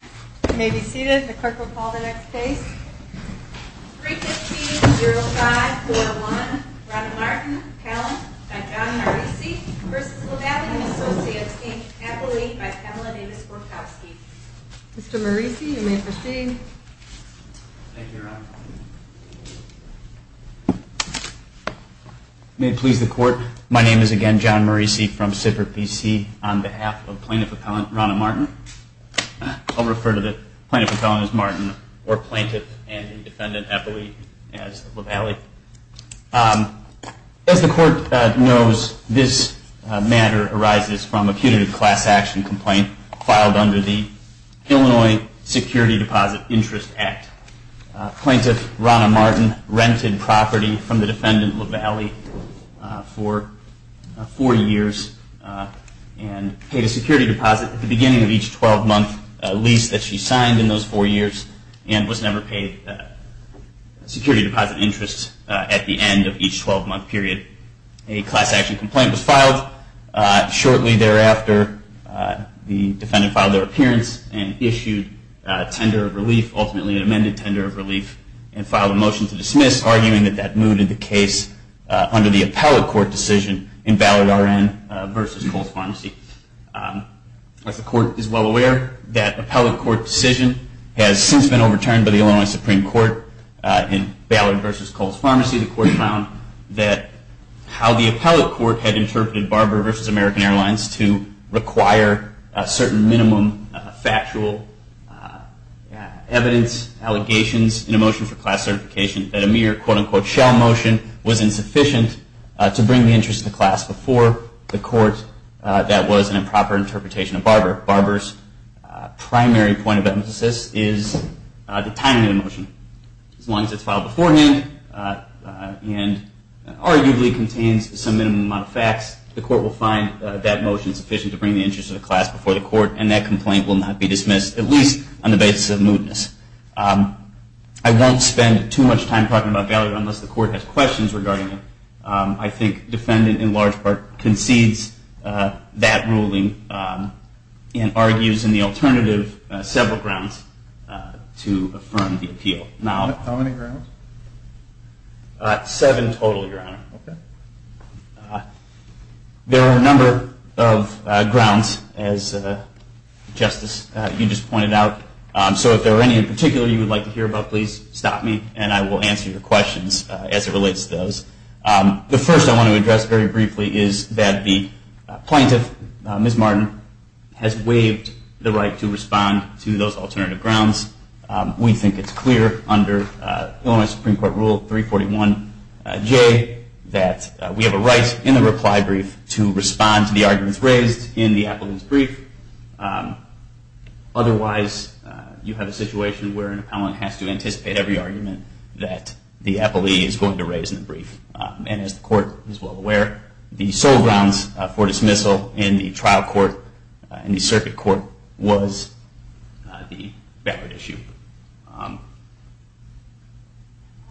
You may be seated. The clerk will call the next case. 315-0541, Ronna Martin, appellant, by John Morrisey, v. LaVallie & Associates Inc. Appellee by Pamela Davis-Gorkowski. Mr. Morrisey, you may proceed. Thank you, Ronna. May it please the Court, my name is again John Morrisey from Sippert, B.C. on behalf of plaintiff appellant Ronna Martin. I'll refer to the plaintiff appellant as Martin, or plaintiff and defendant appellee as LaVallie. As the Court knows, this matter arises from a punitive class action complaint filed under the Illinois Security Deposit Interest Act. Plaintiff Ronna Martin rented property from the defendant LaVallie for four years and paid a security deposit at the beginning of each 12-month lease that she signed in those four years and was never paid security deposit interest at the end of each 12-month period. A class action complaint was filed. Shortly thereafter, the defendant filed their appearance and issued a tender of relief, ultimately an amended tender of relief, and filed a motion to dismiss, arguing that that moved the case under the appellate court decision in Ballard v. Coles Pharmacy. As the Court is well aware, that appellate court decision has since been overturned by the Illinois Supreme Court in Ballard v. Coles Pharmacy. The Court found that how the appellate court had interpreted Barber v. American Airlines in a motion for class certification, that a mere quote, unquote, shell motion, was insufficient to bring the interest of the class before the court that was an improper interpretation of Barber. Barber's primary point of emphasis is the timing of the motion. As long as it's filed beforehand and arguably contains some minimum amount of facts, the Court will find that motion sufficient to bring the interest of the class before the court and that complaint will not be dismissed, at least on the basis of mootness. I won't spend too much time talking about Ballard unless the Court has questions regarding it. I think the defendant, in large part, concedes that ruling and argues in the alternative several grounds to affirm the appeal. How many grounds? Seven total, Your Honor. There are a number of grounds, as Justice, you just pointed out. So if there are any in particular you would like to hear about, please stop me and I will answer your questions as it relates to those. The first I want to address very briefly is that the plaintiff, Ms. Martin, has waived the right to respond to those alternative grounds. We think it's clear under Illinois Supreme Court Rule 341J that we have a right in the reply brief to respond to the arguments raised in the applicant's brief. Otherwise, you have a situation where an appellant has to anticipate every argument that the appellee is going to raise in the brief. And as the Court is well aware, the sole grounds for dismissal in the trial court, in the circuit court, was the Ballard issue.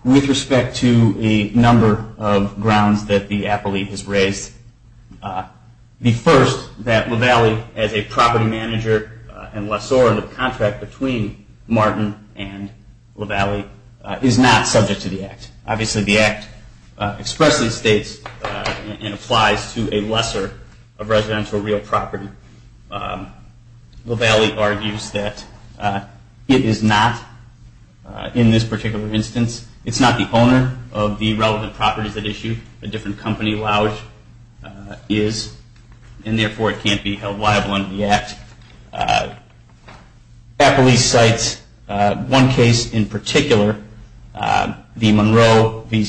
With respect to a number of grounds that the appellee has raised, the first, that LaValle as a property manager and lessor in the contract between Martin and LaValle is not subject to the Act. Obviously, the Act expressly states and applies to a lesser of residential real property. LaValle argues that it is not, in this particular instance, it's not the owner of the relevant properties at issue. A different company, LaValle, is. And therefore, it can't be held liable under the Act. Appellee cites one case in particular, the Monroe v.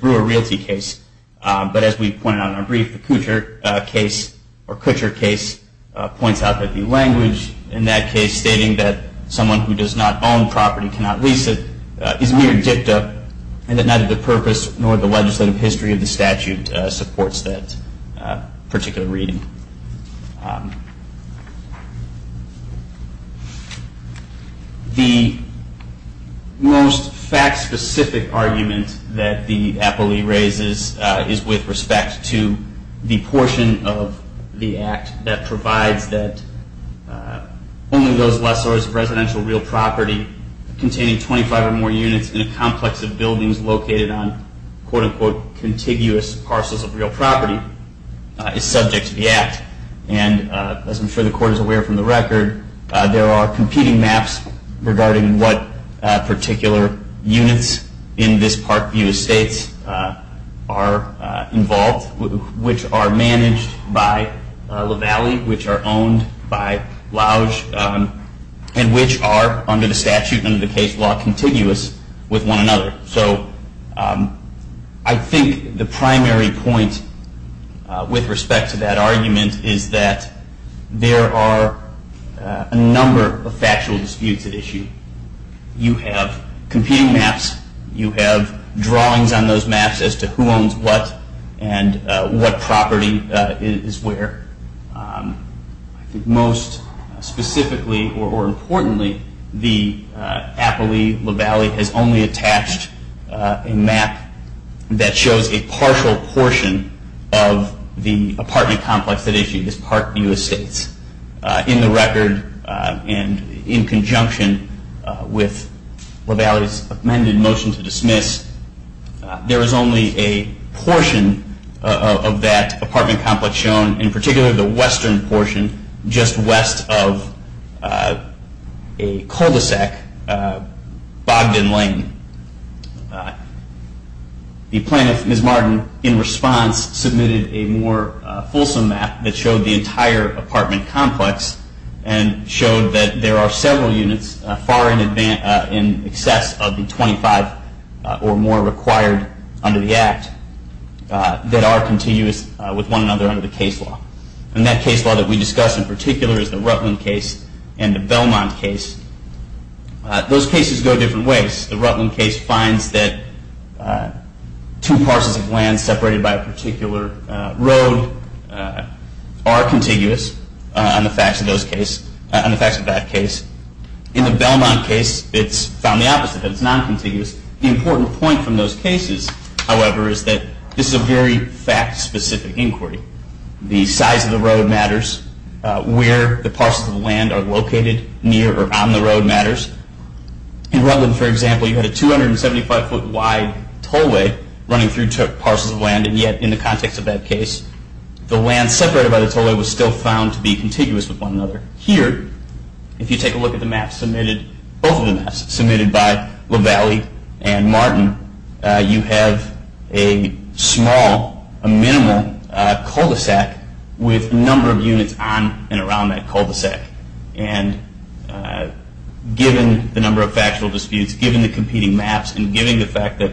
Brewer realty case. But as we pointed out in our brief, the Kutcher case points out that the language in that case stating that someone who does not own property cannot lease it, is mere dicta, and that neither the purpose nor the legislative history of the statute supports that particular reading. The most fact-specific argument that the appellee raises is with respect to the portion of the Act that provides that only those lessors of residential real property containing 25 or more units in a complex of buildings located on, quote-unquote, contiguous parcels of real property, is subject to the Act. And as I'm sure the Court is aware from the record, there are competing maps regarding what particular units in this park view of states are involved, which are managed by LaValle, which are owned by Louge, and which are, under the statute and under the case law, contiguous with one another. So I think the primary point with respect to that argument is that there are a number of factual disputes at issue. You have competing maps. You have drawings on those maps as to who owns what and what property is where. I think most specifically, or importantly, the appellee, LaValle, has only attached a map that shows a partial portion of the apartment complex at issue, this park view of states. In the record and in conjunction with LaValle's amended motion to dismiss, there is only a portion of that apartment complex shown, in particular the western portion just west of a cul-de-sac, Bogdan Lane. The plaintiff, Ms. Martin, in response submitted a more fulsome map that showed the entire apartment complex and showed that there are several units far in excess of the 25 or more required under the Act that are continuous with one another under the case law. And that case law that we discussed in particular is the Rutland case and the Belmont case. Those cases go different ways. The Rutland case finds that two parcels of land separated by a particular road are contiguous on the facts of that case. In the Belmont case, it's found the opposite, that it's non-contiguous. The important point from those cases, however, is that this is a very fact-specific inquiry. The size of the road matters. Where the parcels of land are located near or on the road matters. In Rutland, for example, you had a 275-foot wide tollway running through parcels of land, and yet in the context of that case, the land separated by the tollway was still found to be contiguous with one another. Here, if you take a look at the map submitted, both of the maps submitted by LaValle and Martin, you have a small, a minimal cul-de-sac with a number of units on and around that cul-de-sac. And given the number of factual disputes, given the competing maps, and given the fact that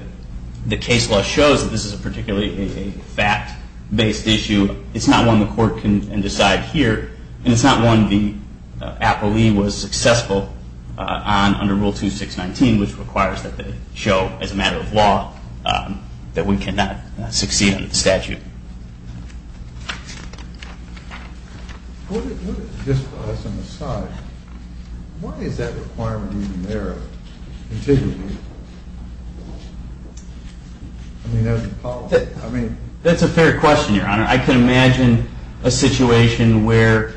the case law shows that this is particularly a fact-based issue, it's not one the court can decide here. And it's not one the APLE was successful on under Rule 2619, which requires that they show, as a matter of law, that we cannot succeed under the statute. Thank you. Just as an aside, why is that requirement even there? That's a fair question, Your Honor. I can imagine a situation where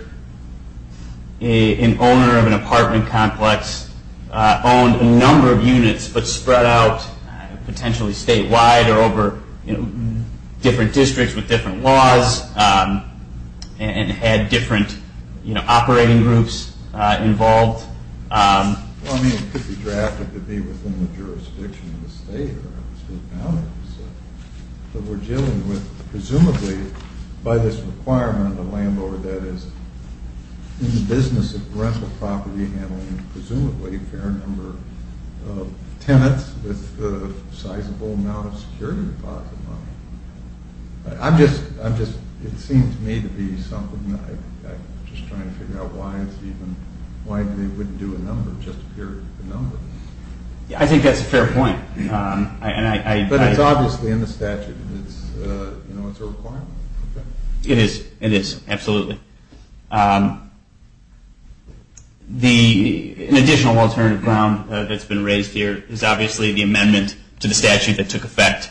an owner of an apartment complex owned a number of units but spread out potentially statewide or over different districts with different laws and had different operating groups involved. Well, I mean, it could be drafted to be within the jurisdiction of the state or state boundaries. But we're dealing with, presumably, by this requirement, a landlord that is in the business of rental property handling presumably a fair number of tenants with a sizable amount of security deposit money. It seems to me to be something that I'm just trying to figure out why they wouldn't do a number, just a period of the number. I think that's a fair point. But it's obviously in the statute. It's a requirement. It is. It is. Absolutely. An additional alternative ground that's been raised here is obviously the amendment to the statute that took effect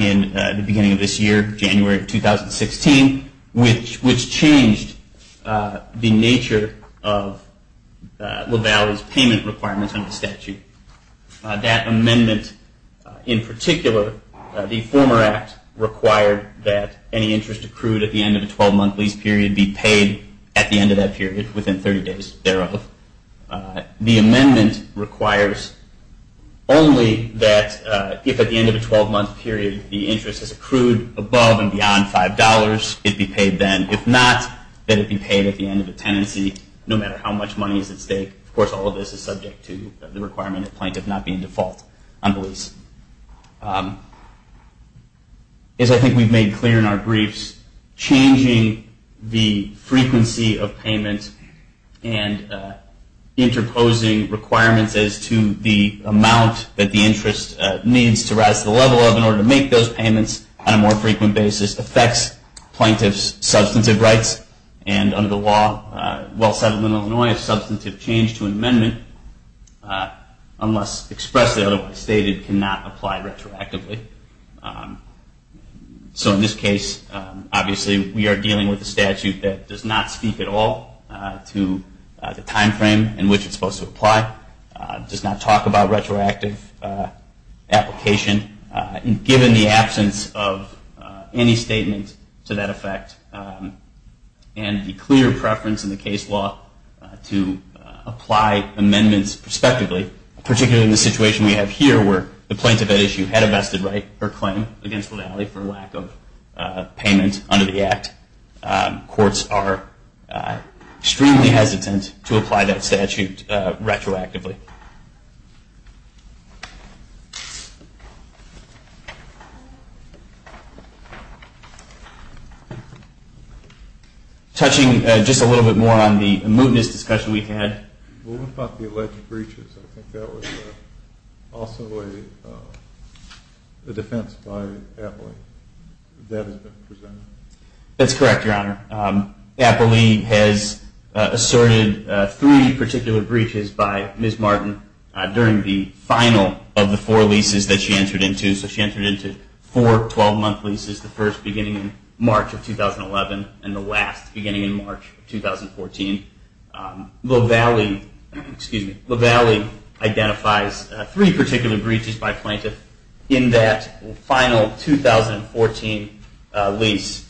in the beginning of this year, January of 2016, which changed the nature of LaValle's payment requirements under the statute. That amendment in particular, the former act, required that any interest accrued at the end of a 12-month lease period be paid at the end of that period within 30 days thereof. The amendment requires only that if at the end of a 12-month period the interest is accrued above and beyond $5, it be paid then. If not, then it be paid at the end of the tenancy no matter how much money is at stake. Of course, all of this is subject to the requirement that plaintiff not be in default on the lease. As I think we've made clear in our briefs, changing the frequency of payment and interposing requirements as to the amount that the interest needs to rise to the level of in order to make those payments on a more frequent basis affects plaintiff's substantive rights. Under the law, while settled in Illinois, a substantive change to an amendment unless expressed or otherwise stated cannot apply retroactively. So in this case, obviously we are dealing with a statute that does not speak at all to the time frame in which it's supposed to apply, does not talk about retroactive application, and given the absence of any statement to that effect and the clear preference in the case law to apply amendments prospectively, particularly in the situation we have here where the plaintiff at issue had a vested right or claim against the valley for lack of payment under the Act, courts are extremely hesitant to apply that statute retroactively. Thank you. Touching just a little bit more on the mootness discussion we had. What about the alleged breaches? I think that was also a defense by Appley that has been presented. That's correct, Your Honor. Appley has asserted three particular breaches by Ms. Martin during the final of the four leases that she entered into. So she entered into four 12-month leases, the first beginning in March of 2011 and the last beginning in March of 2014. La Valle identifies three particular breaches by plaintiff in that final 2014 lease.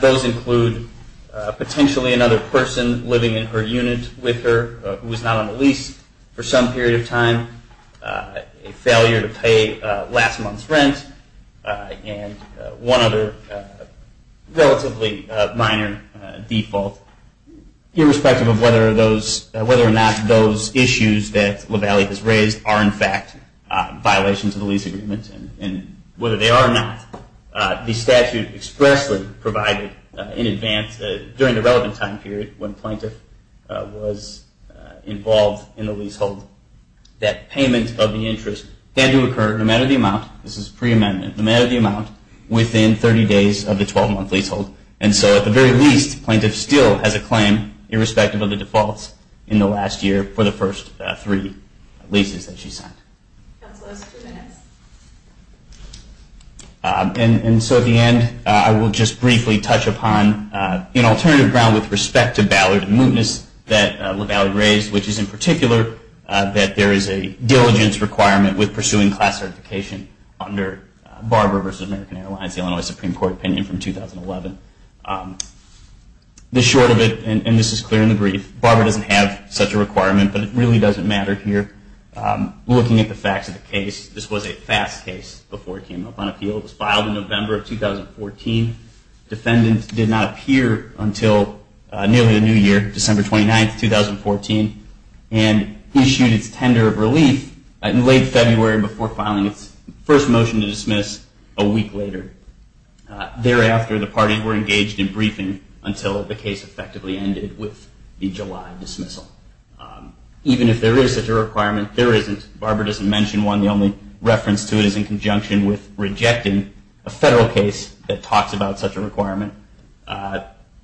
Those include potentially another person living in her unit with her who was not on the lease for some period of time, a failure to pay last month's rent, and one other relatively minor default. Irrespective of whether or not those issues that La Valle has raised are in fact violations of the lease agreement and whether they are not, the statute expressly provided in advance during the relevant time period when plaintiff was involved in the leasehold that payment of the interest had to occur no matter the amount, this is pre-amendment, no matter the amount within 30 days of the 12-month leasehold. And so at the very least, plaintiff still has a claim irrespective of the defaults in the last year for the first three leases that she signed. And so at the end, I will just briefly touch upon an alternative ground with respect to Ballard and Mootness that La Valle raised, which is in particular that there is a diligence requirement with pursuing class certification under Barber v. American Airlines, the Illinois Supreme Court opinion from 2011. The short of it, and this is clear in the brief, Barber doesn't have such a requirement, but it really doesn't matter here. Looking at the facts of the case, this was a fast case before it came up on appeal. It was filed in November of 2014. Defendant did not appear until nearly the new year, December 29, 2014, and issued its tender of relief in late February before filing its first motion to dismiss a week later. Thereafter, the parties were engaged in briefing until the case effectively ended with the July dismissal. Even if there is such a requirement, there isn't. Barber doesn't mention one. The only reference to it is in conjunction with rejecting a federal case that talks about such a requirement.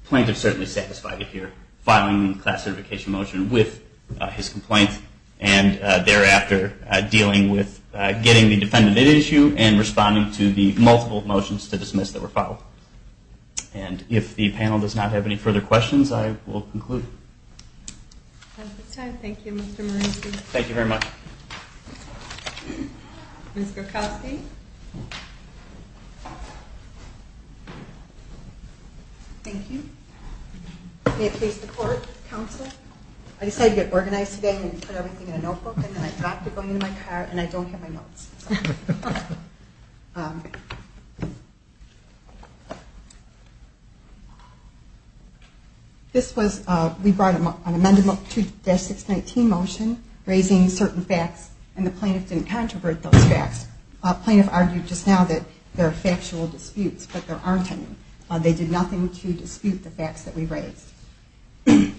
Plaintiffs certainly satisfied it here, filing the class certification motion with his complaint and thereafter dealing with getting the defendant at issue and responding to the multiple motions to dismiss that were filed. And if the panel does not have any further questions, I will conclude. That's the time. Thank you, Mr. Marucci. Thank you very much. Ms. Gokoski? Thank you. May it please the Court, Counsel? I decided to get organized today and put everything in a notebook and then I thought to go into my car and I don't have my notes. This was, we brought an amended 2-619 motion raising certain facts and the plaintiff didn't controvert those facts. The plaintiff argued just now that there are factual disputes, but there aren't any. They did nothing to dispute the facts that we raised.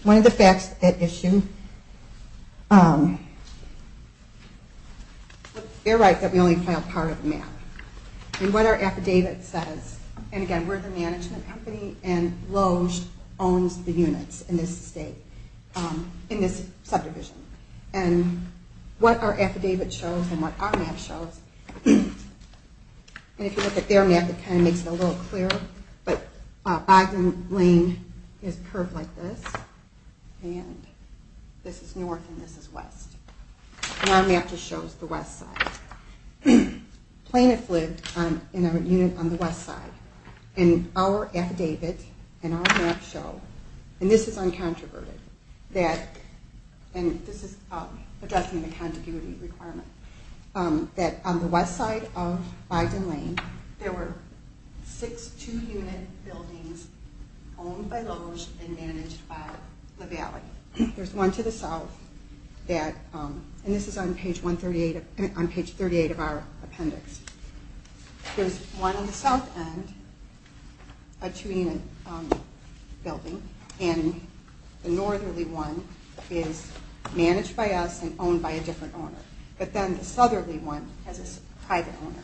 One of the facts at issue, they're right that we only file part of the map. And what our affidavit says, and again, we're the management company and Loge owns the units in this state, in this subdivision. And what our affidavit shows and what our map shows, and if you look at their map it kind of makes it a little clearer, but Bogdan Lane is curved like this and this is north and this is west. And our map just shows the west side. Plaintiffs lived in a unit on the west side. And our affidavit and our map show, and this is uncontroverted, and this is addressing the contiguity requirement, that on the west side of Bogdan Lane there were six two-unit buildings owned by Loge and managed by Lavallee. There's one to the south, and this is on page 38 of our appendix. There's one on the south end, a two-unit building, and the northerly one is managed by us and owned by a different owner. But then the southerly one has a private owner.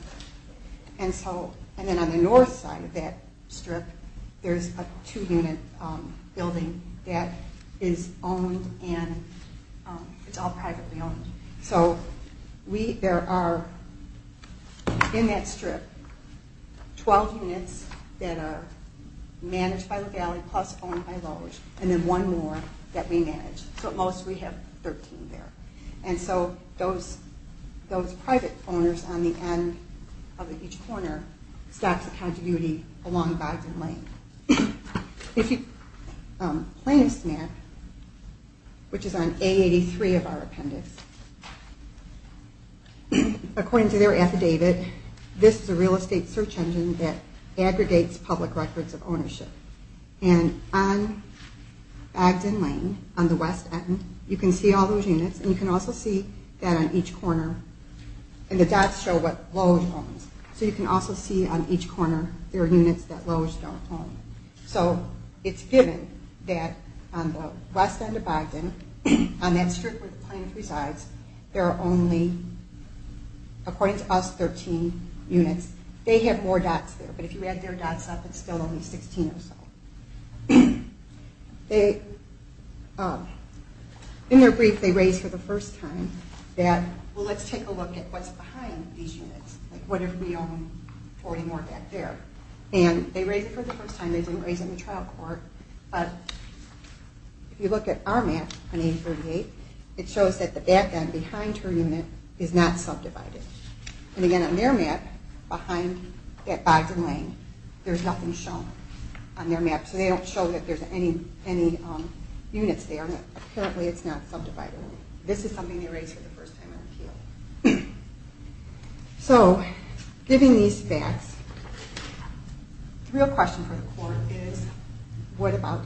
And then on the north side of that strip there's a two-unit building that is owned and it's all privately owned. So there are, in that strip, 12 units that are managed by Lavallee plus owned by Loge and then one more that we manage. So at most we have 13 there. And so those private owners on the end of each corner stocks the contiguity along Bogdan Lane. Plaintiffs' map, which is on A83 of our appendix, according to their affidavit, this is a real estate search engine that aggregates public records of ownership. And on Bogdan Lane, on the west end, you can see all those units and you can also see that on each corner. And the dots show what Loge owns. So you can also see on each corner there are units that Loge don't own. So it's given that on the west end of Bogdan, on that strip where the plaintiff resides, there are only, according to us, 13 units. They have more dots there, but if you add their dots up, it's still only 16 or so. In their brief, they raise for the first time that, well, let's take a look at what's behind these units, like what if we own 40 more back there. And they raise it for the first time. They didn't raise it in the trial court. But if you look at our map on A38, it shows that the back end behind her unit is not subdivided. And again, on their map, behind at Bogdan Lane, there's nothing shown on their map. So they don't show that there's any units there. Apparently it's not subdivided. This is something they raise for the first time in appeal. So giving these facts, the real question for the court is, what about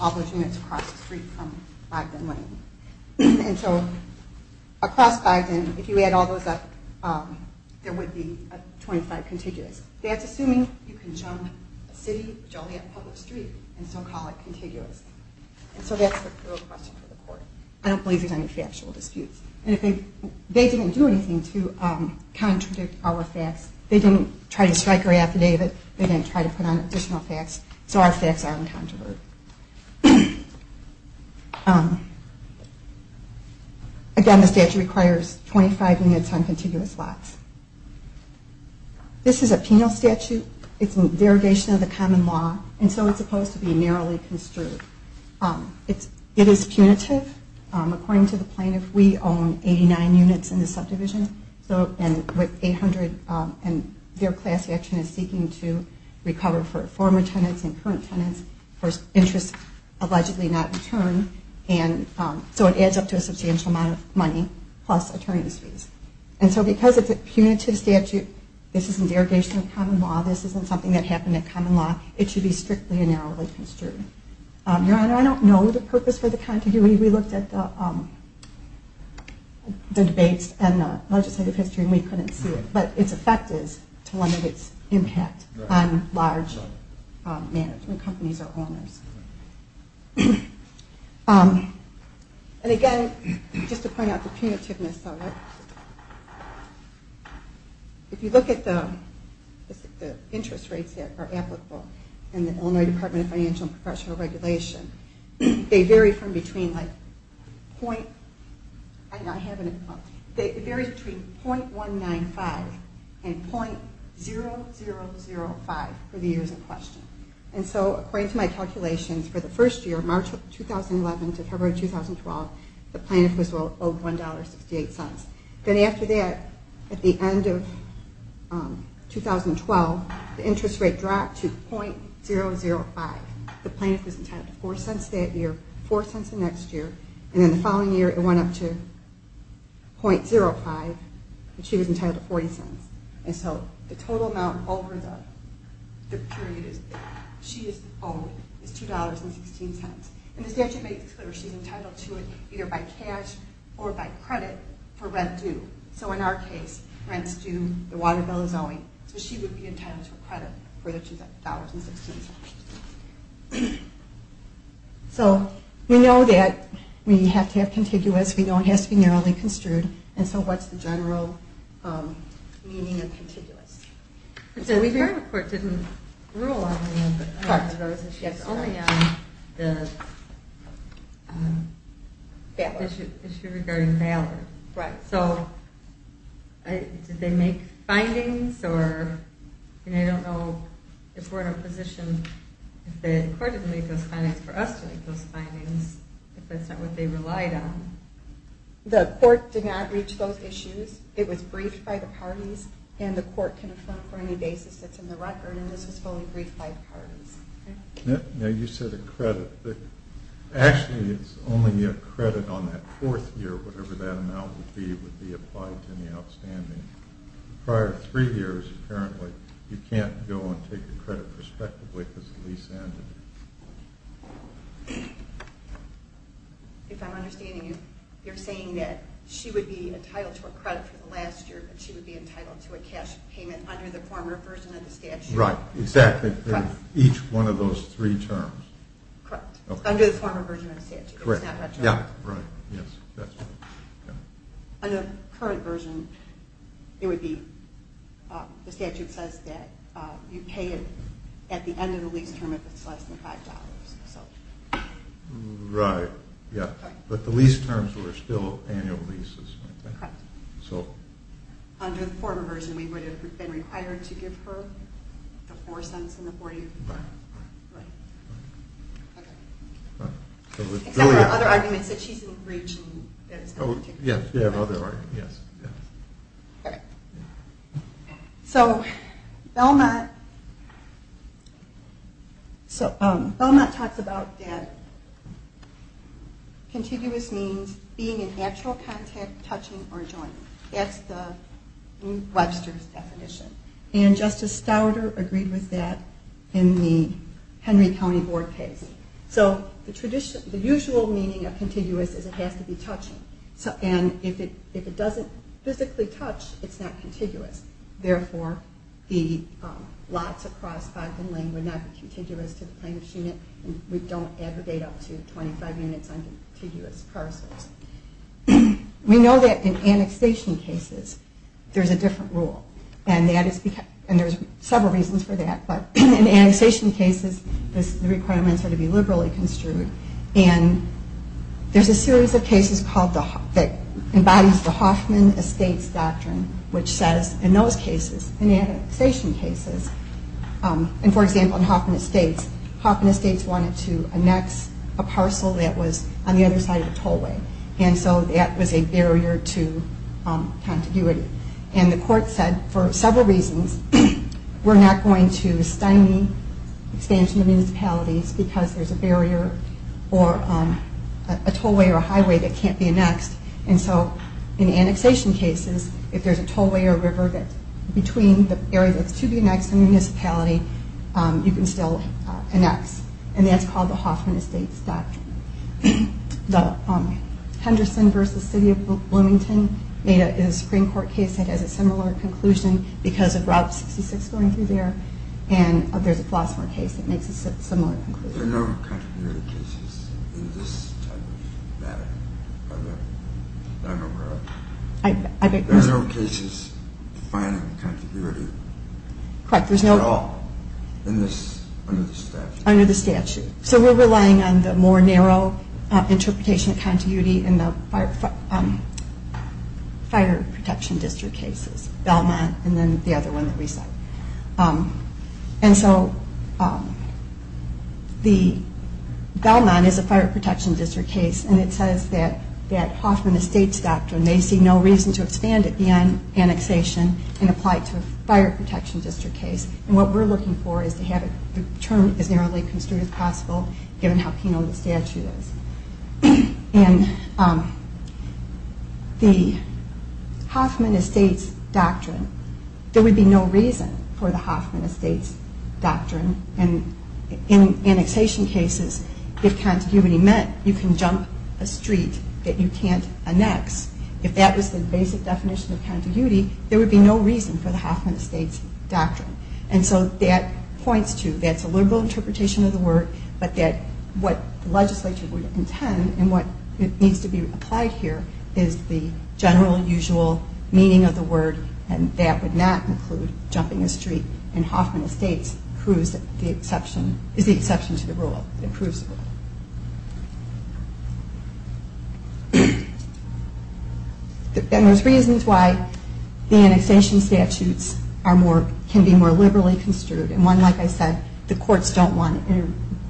all those units across the street from Bogdan Lane? And so across Bogdan, if you add all those up, there would be 25 contiguous. That's assuming you can jump a city, jump a public street, and still call it contiguous. And so that's the real question for the court. I don't believe there's any factual disputes. And they didn't do anything to contradict our facts. They didn't try to strike her affidavit. They didn't try to put on additional facts. So our facts are incontrovertible. Again, the statute requires 25 units on contiguous lots. This is a penal statute. It's a derogation of the common law, and so it's supposed to be narrowly construed. It is punitive. According to the plaintiff, we own 89 units in the subdivision, and their class action is seeking to recover for former tenants and current tenants for interests allegedly not returned. plus attorney's fees. And so because it's a punitive statute, this isn't derogation of common law, this isn't something that happened in common law, it should be strictly and narrowly construed. Your Honor, I don't know the purpose for the contiguity. We looked at the debates and the legislative history, and we couldn't see it. But its effect is to limit its impact on large management companies or owners. And again, just to point out the punitiveness of it, if you look at the interest rates that are applicable in the Illinois Department of Financial and Professional Regulation, they vary from between .195 and .0005 for the years in question. And so according to my calculations, for the first year, March 2011 to February 2012, the plaintiff was owed $1.68. Then after that, at the end of 2012, the interest rate dropped to .005. The plaintiff was entitled to 4 cents that year, 4 cents the next year, and then the following year it went up to .05, but she was entitled to 40 cents. And so the total amount over the period she is owed is $2.16. And the statute makes it clear she's entitled to it either by cash or by credit for rent due. So in our case, rent's due, the water bill is owing, so she would be entitled to a credit for the $2.16. So we know that we have to have contiguous. We know it has to be narrowly construed. And so what's the general meaning of contiguous? We heard the court didn't rule on any of those issues, only on the issue regarding ballot. So did they make findings? I don't know if we're in a position, if the court didn't make those findings for us to make those findings, if that's not what they relied on. The court did not reach those issues. It was briefed by the parties, and the court can affirm for any basis that's in the record, and this was fully briefed by the parties. Now you said a credit. Actually, it's only a credit on that fourth year, whatever that amount would be, would be applied to the outstanding. Prior to three years, apparently, you can't go and take the credit prospectively because the lease ended. If I'm understanding you, you're saying that she would be entitled to a credit for the last year, but she would be entitled to a cash payment under the former version of the statute. Right. Exactly. Each one of those three terms. Correct. Under the former version of the statute. Correct. It's not retroactive. Right. Yes. Under the current version, it would be the statute says that you pay it at the end of the lease term if it's less than $5. Right. Yes. But the lease terms were still annual leases. Correct. So. Under the former version, we would have been required to give her the 4 cents in the 40th. Right. Right. Okay. Except for other arguments that she's in breach. Yes. We have other arguments. Yes. Okay. So Belmont talks about that contiguous means being in actual contact, touching, or joining. That's the Webster's definition. And Justice Stauder agreed with that in the Henry County Board case. So the usual meaning of contiguous is it has to be touching. And if it doesn't physically touch, it's not contiguous. Therefore, the lots across Fogden Lane would not be contiguous to the plaintiff's unit. We don't aggregate up to 25 units on contiguous parcels. We know that in annexation cases, there's a different rule. And there's several reasons for that. But in annexation cases, the requirements are to be liberally construed. And there's a series of cases that embodies the Hoffman Estates doctrine, which says in those cases, in annexation cases, and, for example, in Hoffman Estates, Hoffman Estates wanted to annex a parcel that was on the other side of the tollway. And so that was a barrier to contiguity. And the court said, for several reasons, we're not going to stymie expansion of municipalities because there's a barrier or a tollway or a highway that can't be annexed. And so in annexation cases, if there's a tollway or a river between the area that's to be annexed and the municipality, you can still annex. And that's called the Hoffman Estates doctrine. The Henderson v. City of Bloomington is a Supreme Court case that has a similar conclusion because of Route 66 going through there. And there's a Flossmore case that makes a similar conclusion. There are no contiguity cases in this type of matter? There are no cases defining contiguity at all under the statute? Under the statute. So we're relying on the more narrow interpretation of contiguity in the fire protection district cases, Belmont and then the other one that we cited. And so Belmont is a fire protection district case, and it says that Hoffman Estates doctrine may see no reason to expand it beyond annexation and apply it to a fire protection district case. And what we're looking for is to have it determined as narrowly construed as possible, given how keen on the statute is. And the Hoffman Estates doctrine, there would be no reason for the Hoffman Estates doctrine. And in annexation cases, if contiguity meant you can jump a street that you can't annex, if that was the basic definition of contiguity, there would be no reason for the Hoffman Estates doctrine. And so that points to, that's a liberal interpretation of the word, but that what the legislature would intend and what needs to be applied here is the general, usual meaning of the word, and that would not include jumping a street. And Hoffman Estates is the exception to the rule. It approves the rule. And there's reasons why the annexation statutes can be more liberally construed. And one, like I said, the courts don't want to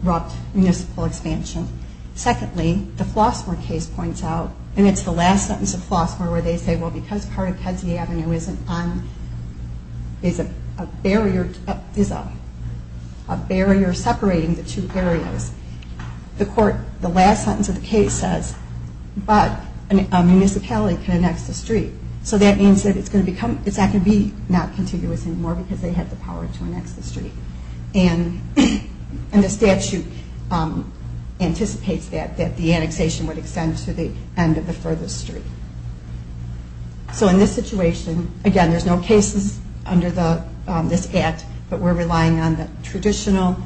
interrupt municipal expansion. Secondly, the Flossmoor case points out, and it's the last sentence of Flossmoor where they say, well, because part of Kedzie Avenue is a barrier separating the two areas, the last sentence of the case says, but a municipality can annex the street. So that means that it's not going to be not contiguous anymore because they have the power to annex the street. And the statute anticipates that, that the annexation would extend to the end of the furthest street. So in this situation, again, there's no cases under this Act, but we're relying on the traditional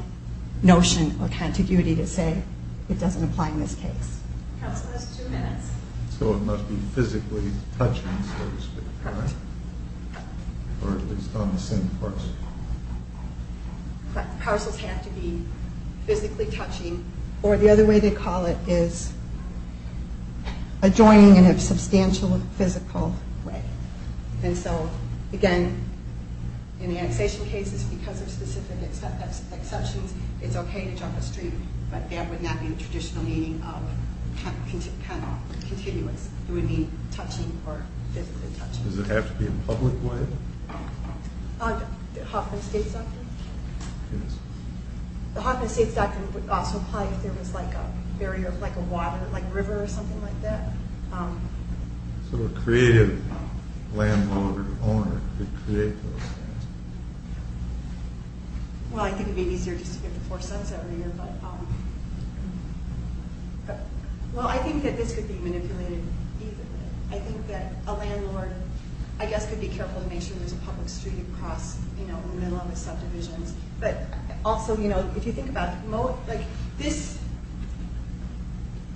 notion of contiguity to say it doesn't apply in this case. Counsel has two minutes. So it must be physically touching, so to speak, right? Or at least on the same parcel. Parcels have to be physically touching. Or the other way they call it is adjoining in a substantial physical way. And so, again, in the annexation cases, because of specific exceptions, it's okay to jump a street, but that would not be the traditional meaning of kind of continuous. It would be touching or physically touching. Does it have to be in a public way? The Hoffman State's doctrine? Yes. The Hoffman State's doctrine would also apply if there was like a barrier of like a water, like a river or something like that. So a creative landowner or owner could create those. Well, I think it would be easier just to get the four sons every year. But, well, I think that this could be manipulated. I think that a landlord, I guess, could be careful to make sure there's a public street across, you know, in the middle of the subdivisions. But also, you know, if you think about like this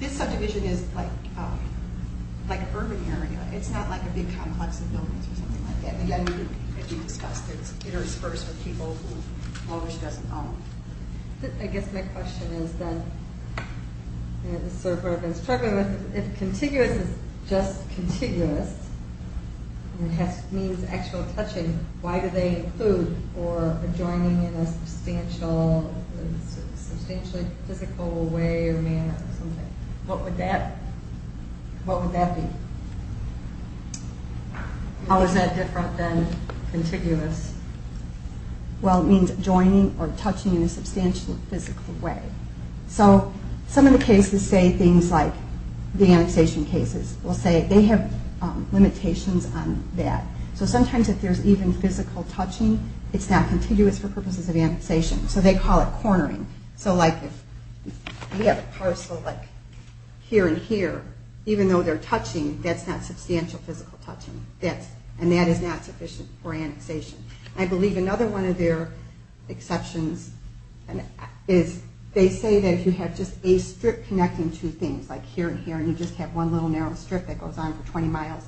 subdivision is like an urban area. It's not like a big complex of buildings or something like that. And, again, as you discussed, it's interspersed with people who almost doesn't own them. I guess my question is that, you know, this is sort of where I've been struggling with. If contiguous is just contiguous, and it means actual touching, why do they include or adjoining in a substantial, substantially physical way or manner or something? What would that be? How is that different than contiguous? Well, it means adjoining or touching in a substantial physical way. So some of the cases say things like the annexation cases will say they have limitations on that. So sometimes if there's even physical touching, it's not contiguous for purposes of annexation. So they call it cornering. So like if we have a parcel like here and here, even though they're touching, that's not substantial physical touching. And that is not sufficient for annexation. I believe another one of their exceptions is they say that if you have just a strip connecting two things, like here and here, and you just have one little narrow strip that goes on for 20 miles,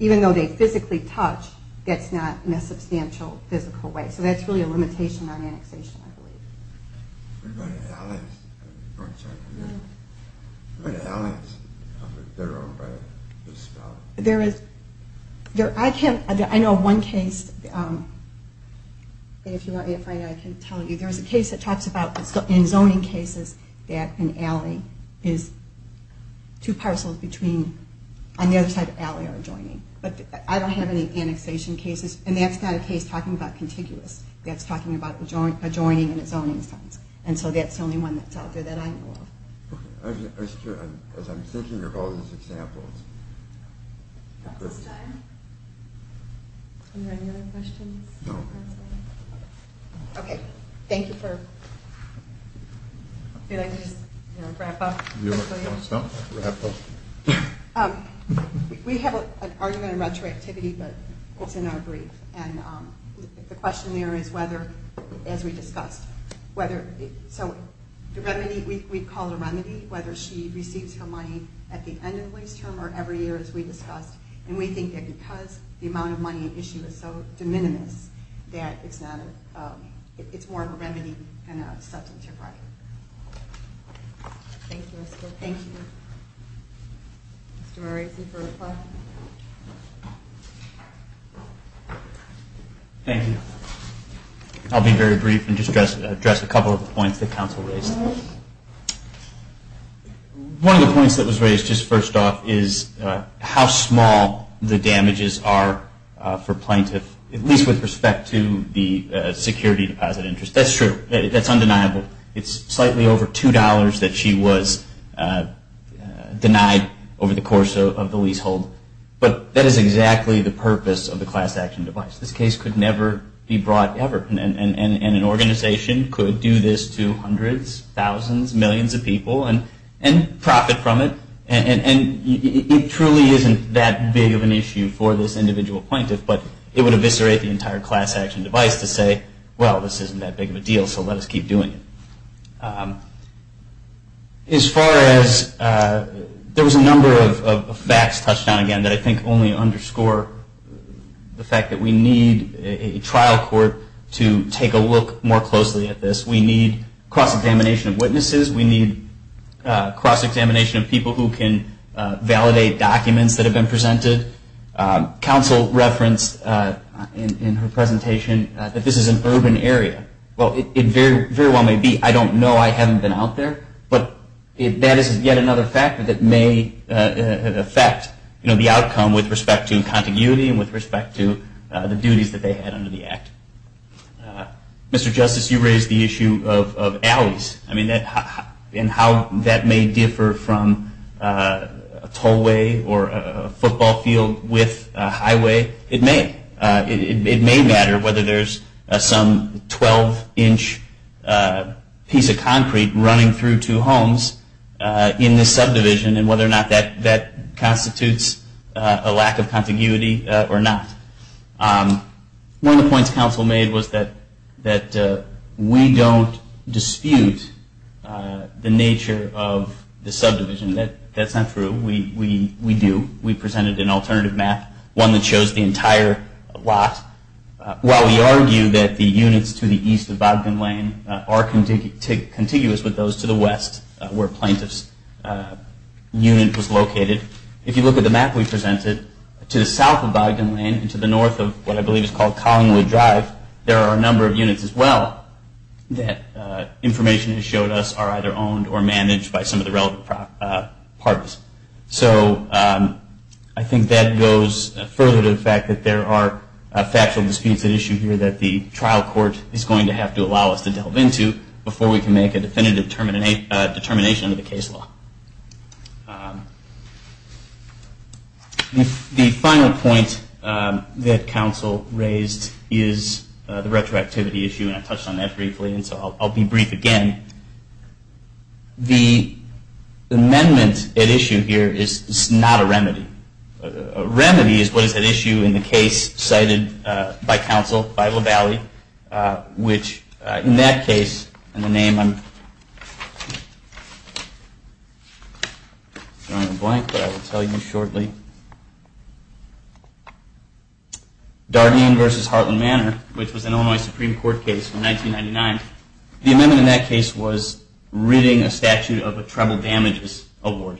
even though they physically touch, that's not in a substantial physical way. So that's really a limitation on annexation, I believe. What about the alleys? There is, I can't, I know one case, and if you want me to find it, I can tell you. There's a case that talks about in zoning cases that an alley is two parcels between, on the other side of the alley are adjoining. But I don't have any annexation cases. And that's not a case talking about contiguous. That's talking about adjoining in a zoning sense. And so that's the only one that's out there that I know of. As I'm thinking of all these examples. Dr. Stein? Any other questions? No. Okay. Thank you for, if you'd like to just wrap up. We have an argument in retroactivity, but it's in our brief. And the question there is whether, as we discussed, whether, so the remedy, we call it a remedy, whether she receives her money at the end of the lease term or every year, as we discussed. And we think that because the amount of money at issue is so de minimis, that it's not, it's more of a remedy than a substantive right. Thank you. Thank you. Mr. Morales, do you have a reply? Thank you. I'll be very brief and just address a couple of the points the council raised. One of the points that was raised just first off is how small the damages are for plaintiff, at least with respect to the security deposit interest. That's true. That's undeniable. It's slightly over $2 that she was denied over the course of the leasehold. But that is exactly the purpose of the class action device. This case could never be brought ever. And an organization could do this to hundreds, thousands, millions of people and profit from it. And it truly isn't that big of an issue for this individual plaintiff, but it would eviscerate the entire class action device to say, well, this isn't that big of a deal, so let us keep doing it. As far as, there was a number of facts touched on again that I think only underscore the fact that we need a trial court to take a look more closely at this. We need cross-examination of witnesses. We need cross-examination of people who can validate documents that have been presented. Counsel referenced in her presentation that this is an urban area. Well, it very well may be. I don't know. I haven't been out there. But that is yet another factor that may affect the outcome with respect to continuity and with respect to the duties that they had under the Act. Mr. Justice, you raised the issue of alleys and how that may differ from a tollway or a football field with a highway. It may. It may matter whether there's some 12-inch piece of concrete running through two homes in this subdivision and whether or not that constitutes a lack of continuity or not. One of the points counsel made was that we don't dispute the nature of the subdivision. That's not true. We do. We presented an alternative map, one that shows the entire lot. While we argue that the units to the east of Bogdan Lane are contiguous with those to the west where Plaintiff's unit was located, if you look at the map we presented, to the south of Bogdan Lane and to the north of what I believe is called Collingwood Drive, there are a number of units as well that information has showed us are either owned or managed by some of the relevant parties. So I think that goes further to the fact that there are factual disputes at issue here that the trial court is going to have to allow us to delve into before we can make a definitive determination of the case law. The final point that counsel raised is the retroactivity issue, and I touched on that briefly, and so I'll be brief again. The amendment at issue here is not a remedy. A remedy is what is at issue in the case cited by counsel, by LaValle, which in that case, and the name I'm throwing in the blank, but I will tell you shortly, Dardeen v. Hartland Manor, which was an Illinois Supreme Court case in 1999. The amendment in that case was ridding a statute of a treble damages award.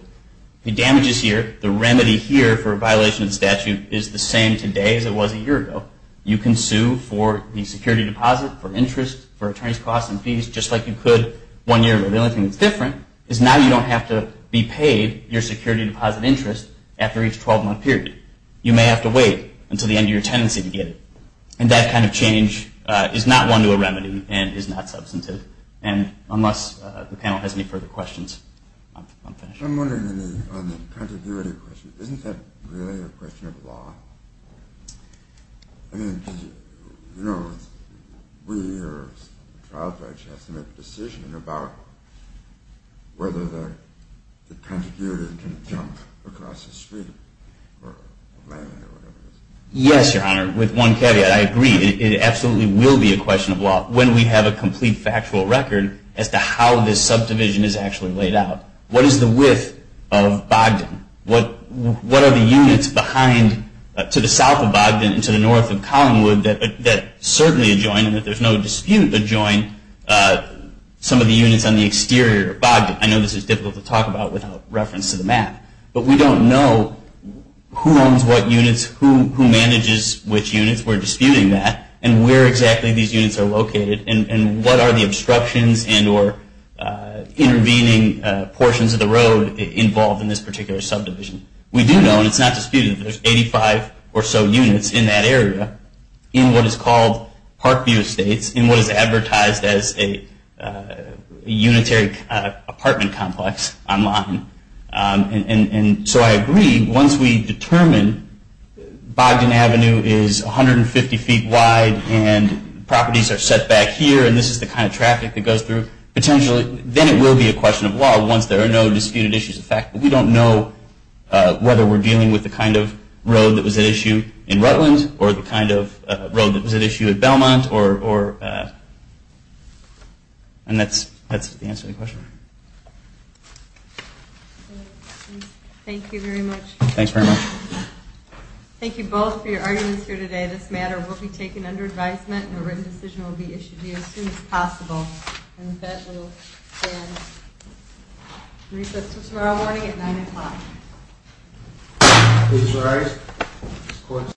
The damages here, the remedy here for a violation of the statute, is the same today as it was a year ago. You can sue for the security deposit, for interest, for attorney's costs and fees, just like you could one year ago. The only thing that's different is now you don't have to be paid your security deposit interest after each 12-month period. You may have to wait until the end of your tenancy to get it, and that kind of change is not one to a remedy and is not substantive, and unless the panel has any further questions, I'm finished. I'm wondering on the contiguity question, isn't that really a question of law? I mean, you know, we or the trial judge has to make a decision about whether the contiguity can jump across the street or land or whatever it is. Yes, Your Honor, with one caveat, I agree. It absolutely will be a question of law when we have a complete factual record as to how this subdivision is actually laid out. What is the width of Bogdan? What are the units behind to the south of Bogdan and to the north of Collingwood that certainly adjoin, and that there's no dispute adjoin, some of the units on the exterior of Bogdan? I know this is difficult to talk about without reference to the map, but we don't know who owns what units, who manages which units, we're disputing that, and where exactly these units are located, and what are the obstructions and or intervening portions of the road involved in this particular subdivision. We do know, and it's not disputed, that there's 85 or so units in that area in what is called Parkview Estates, in what is advertised as a unitary apartment complex online. So I agree, once we determine Bogdan Avenue is 150 feet wide, and properties are set back here, and this is the kind of traffic that goes through, potentially then it will be a question of law once there are no disputed issues. In fact, we don't know whether we're dealing with the kind of road that was at issue in Rutland, or the kind of road that was at issue at Belmont. And that's the answer to the question. Thank you very much. Thanks very much. Thank you both for your arguments here today. This matter will be taken under advisement, and a written decision will be issued to you as soon as possible. And with that, we will stand. And recess until tomorrow morning at 9 o'clock. Please rise.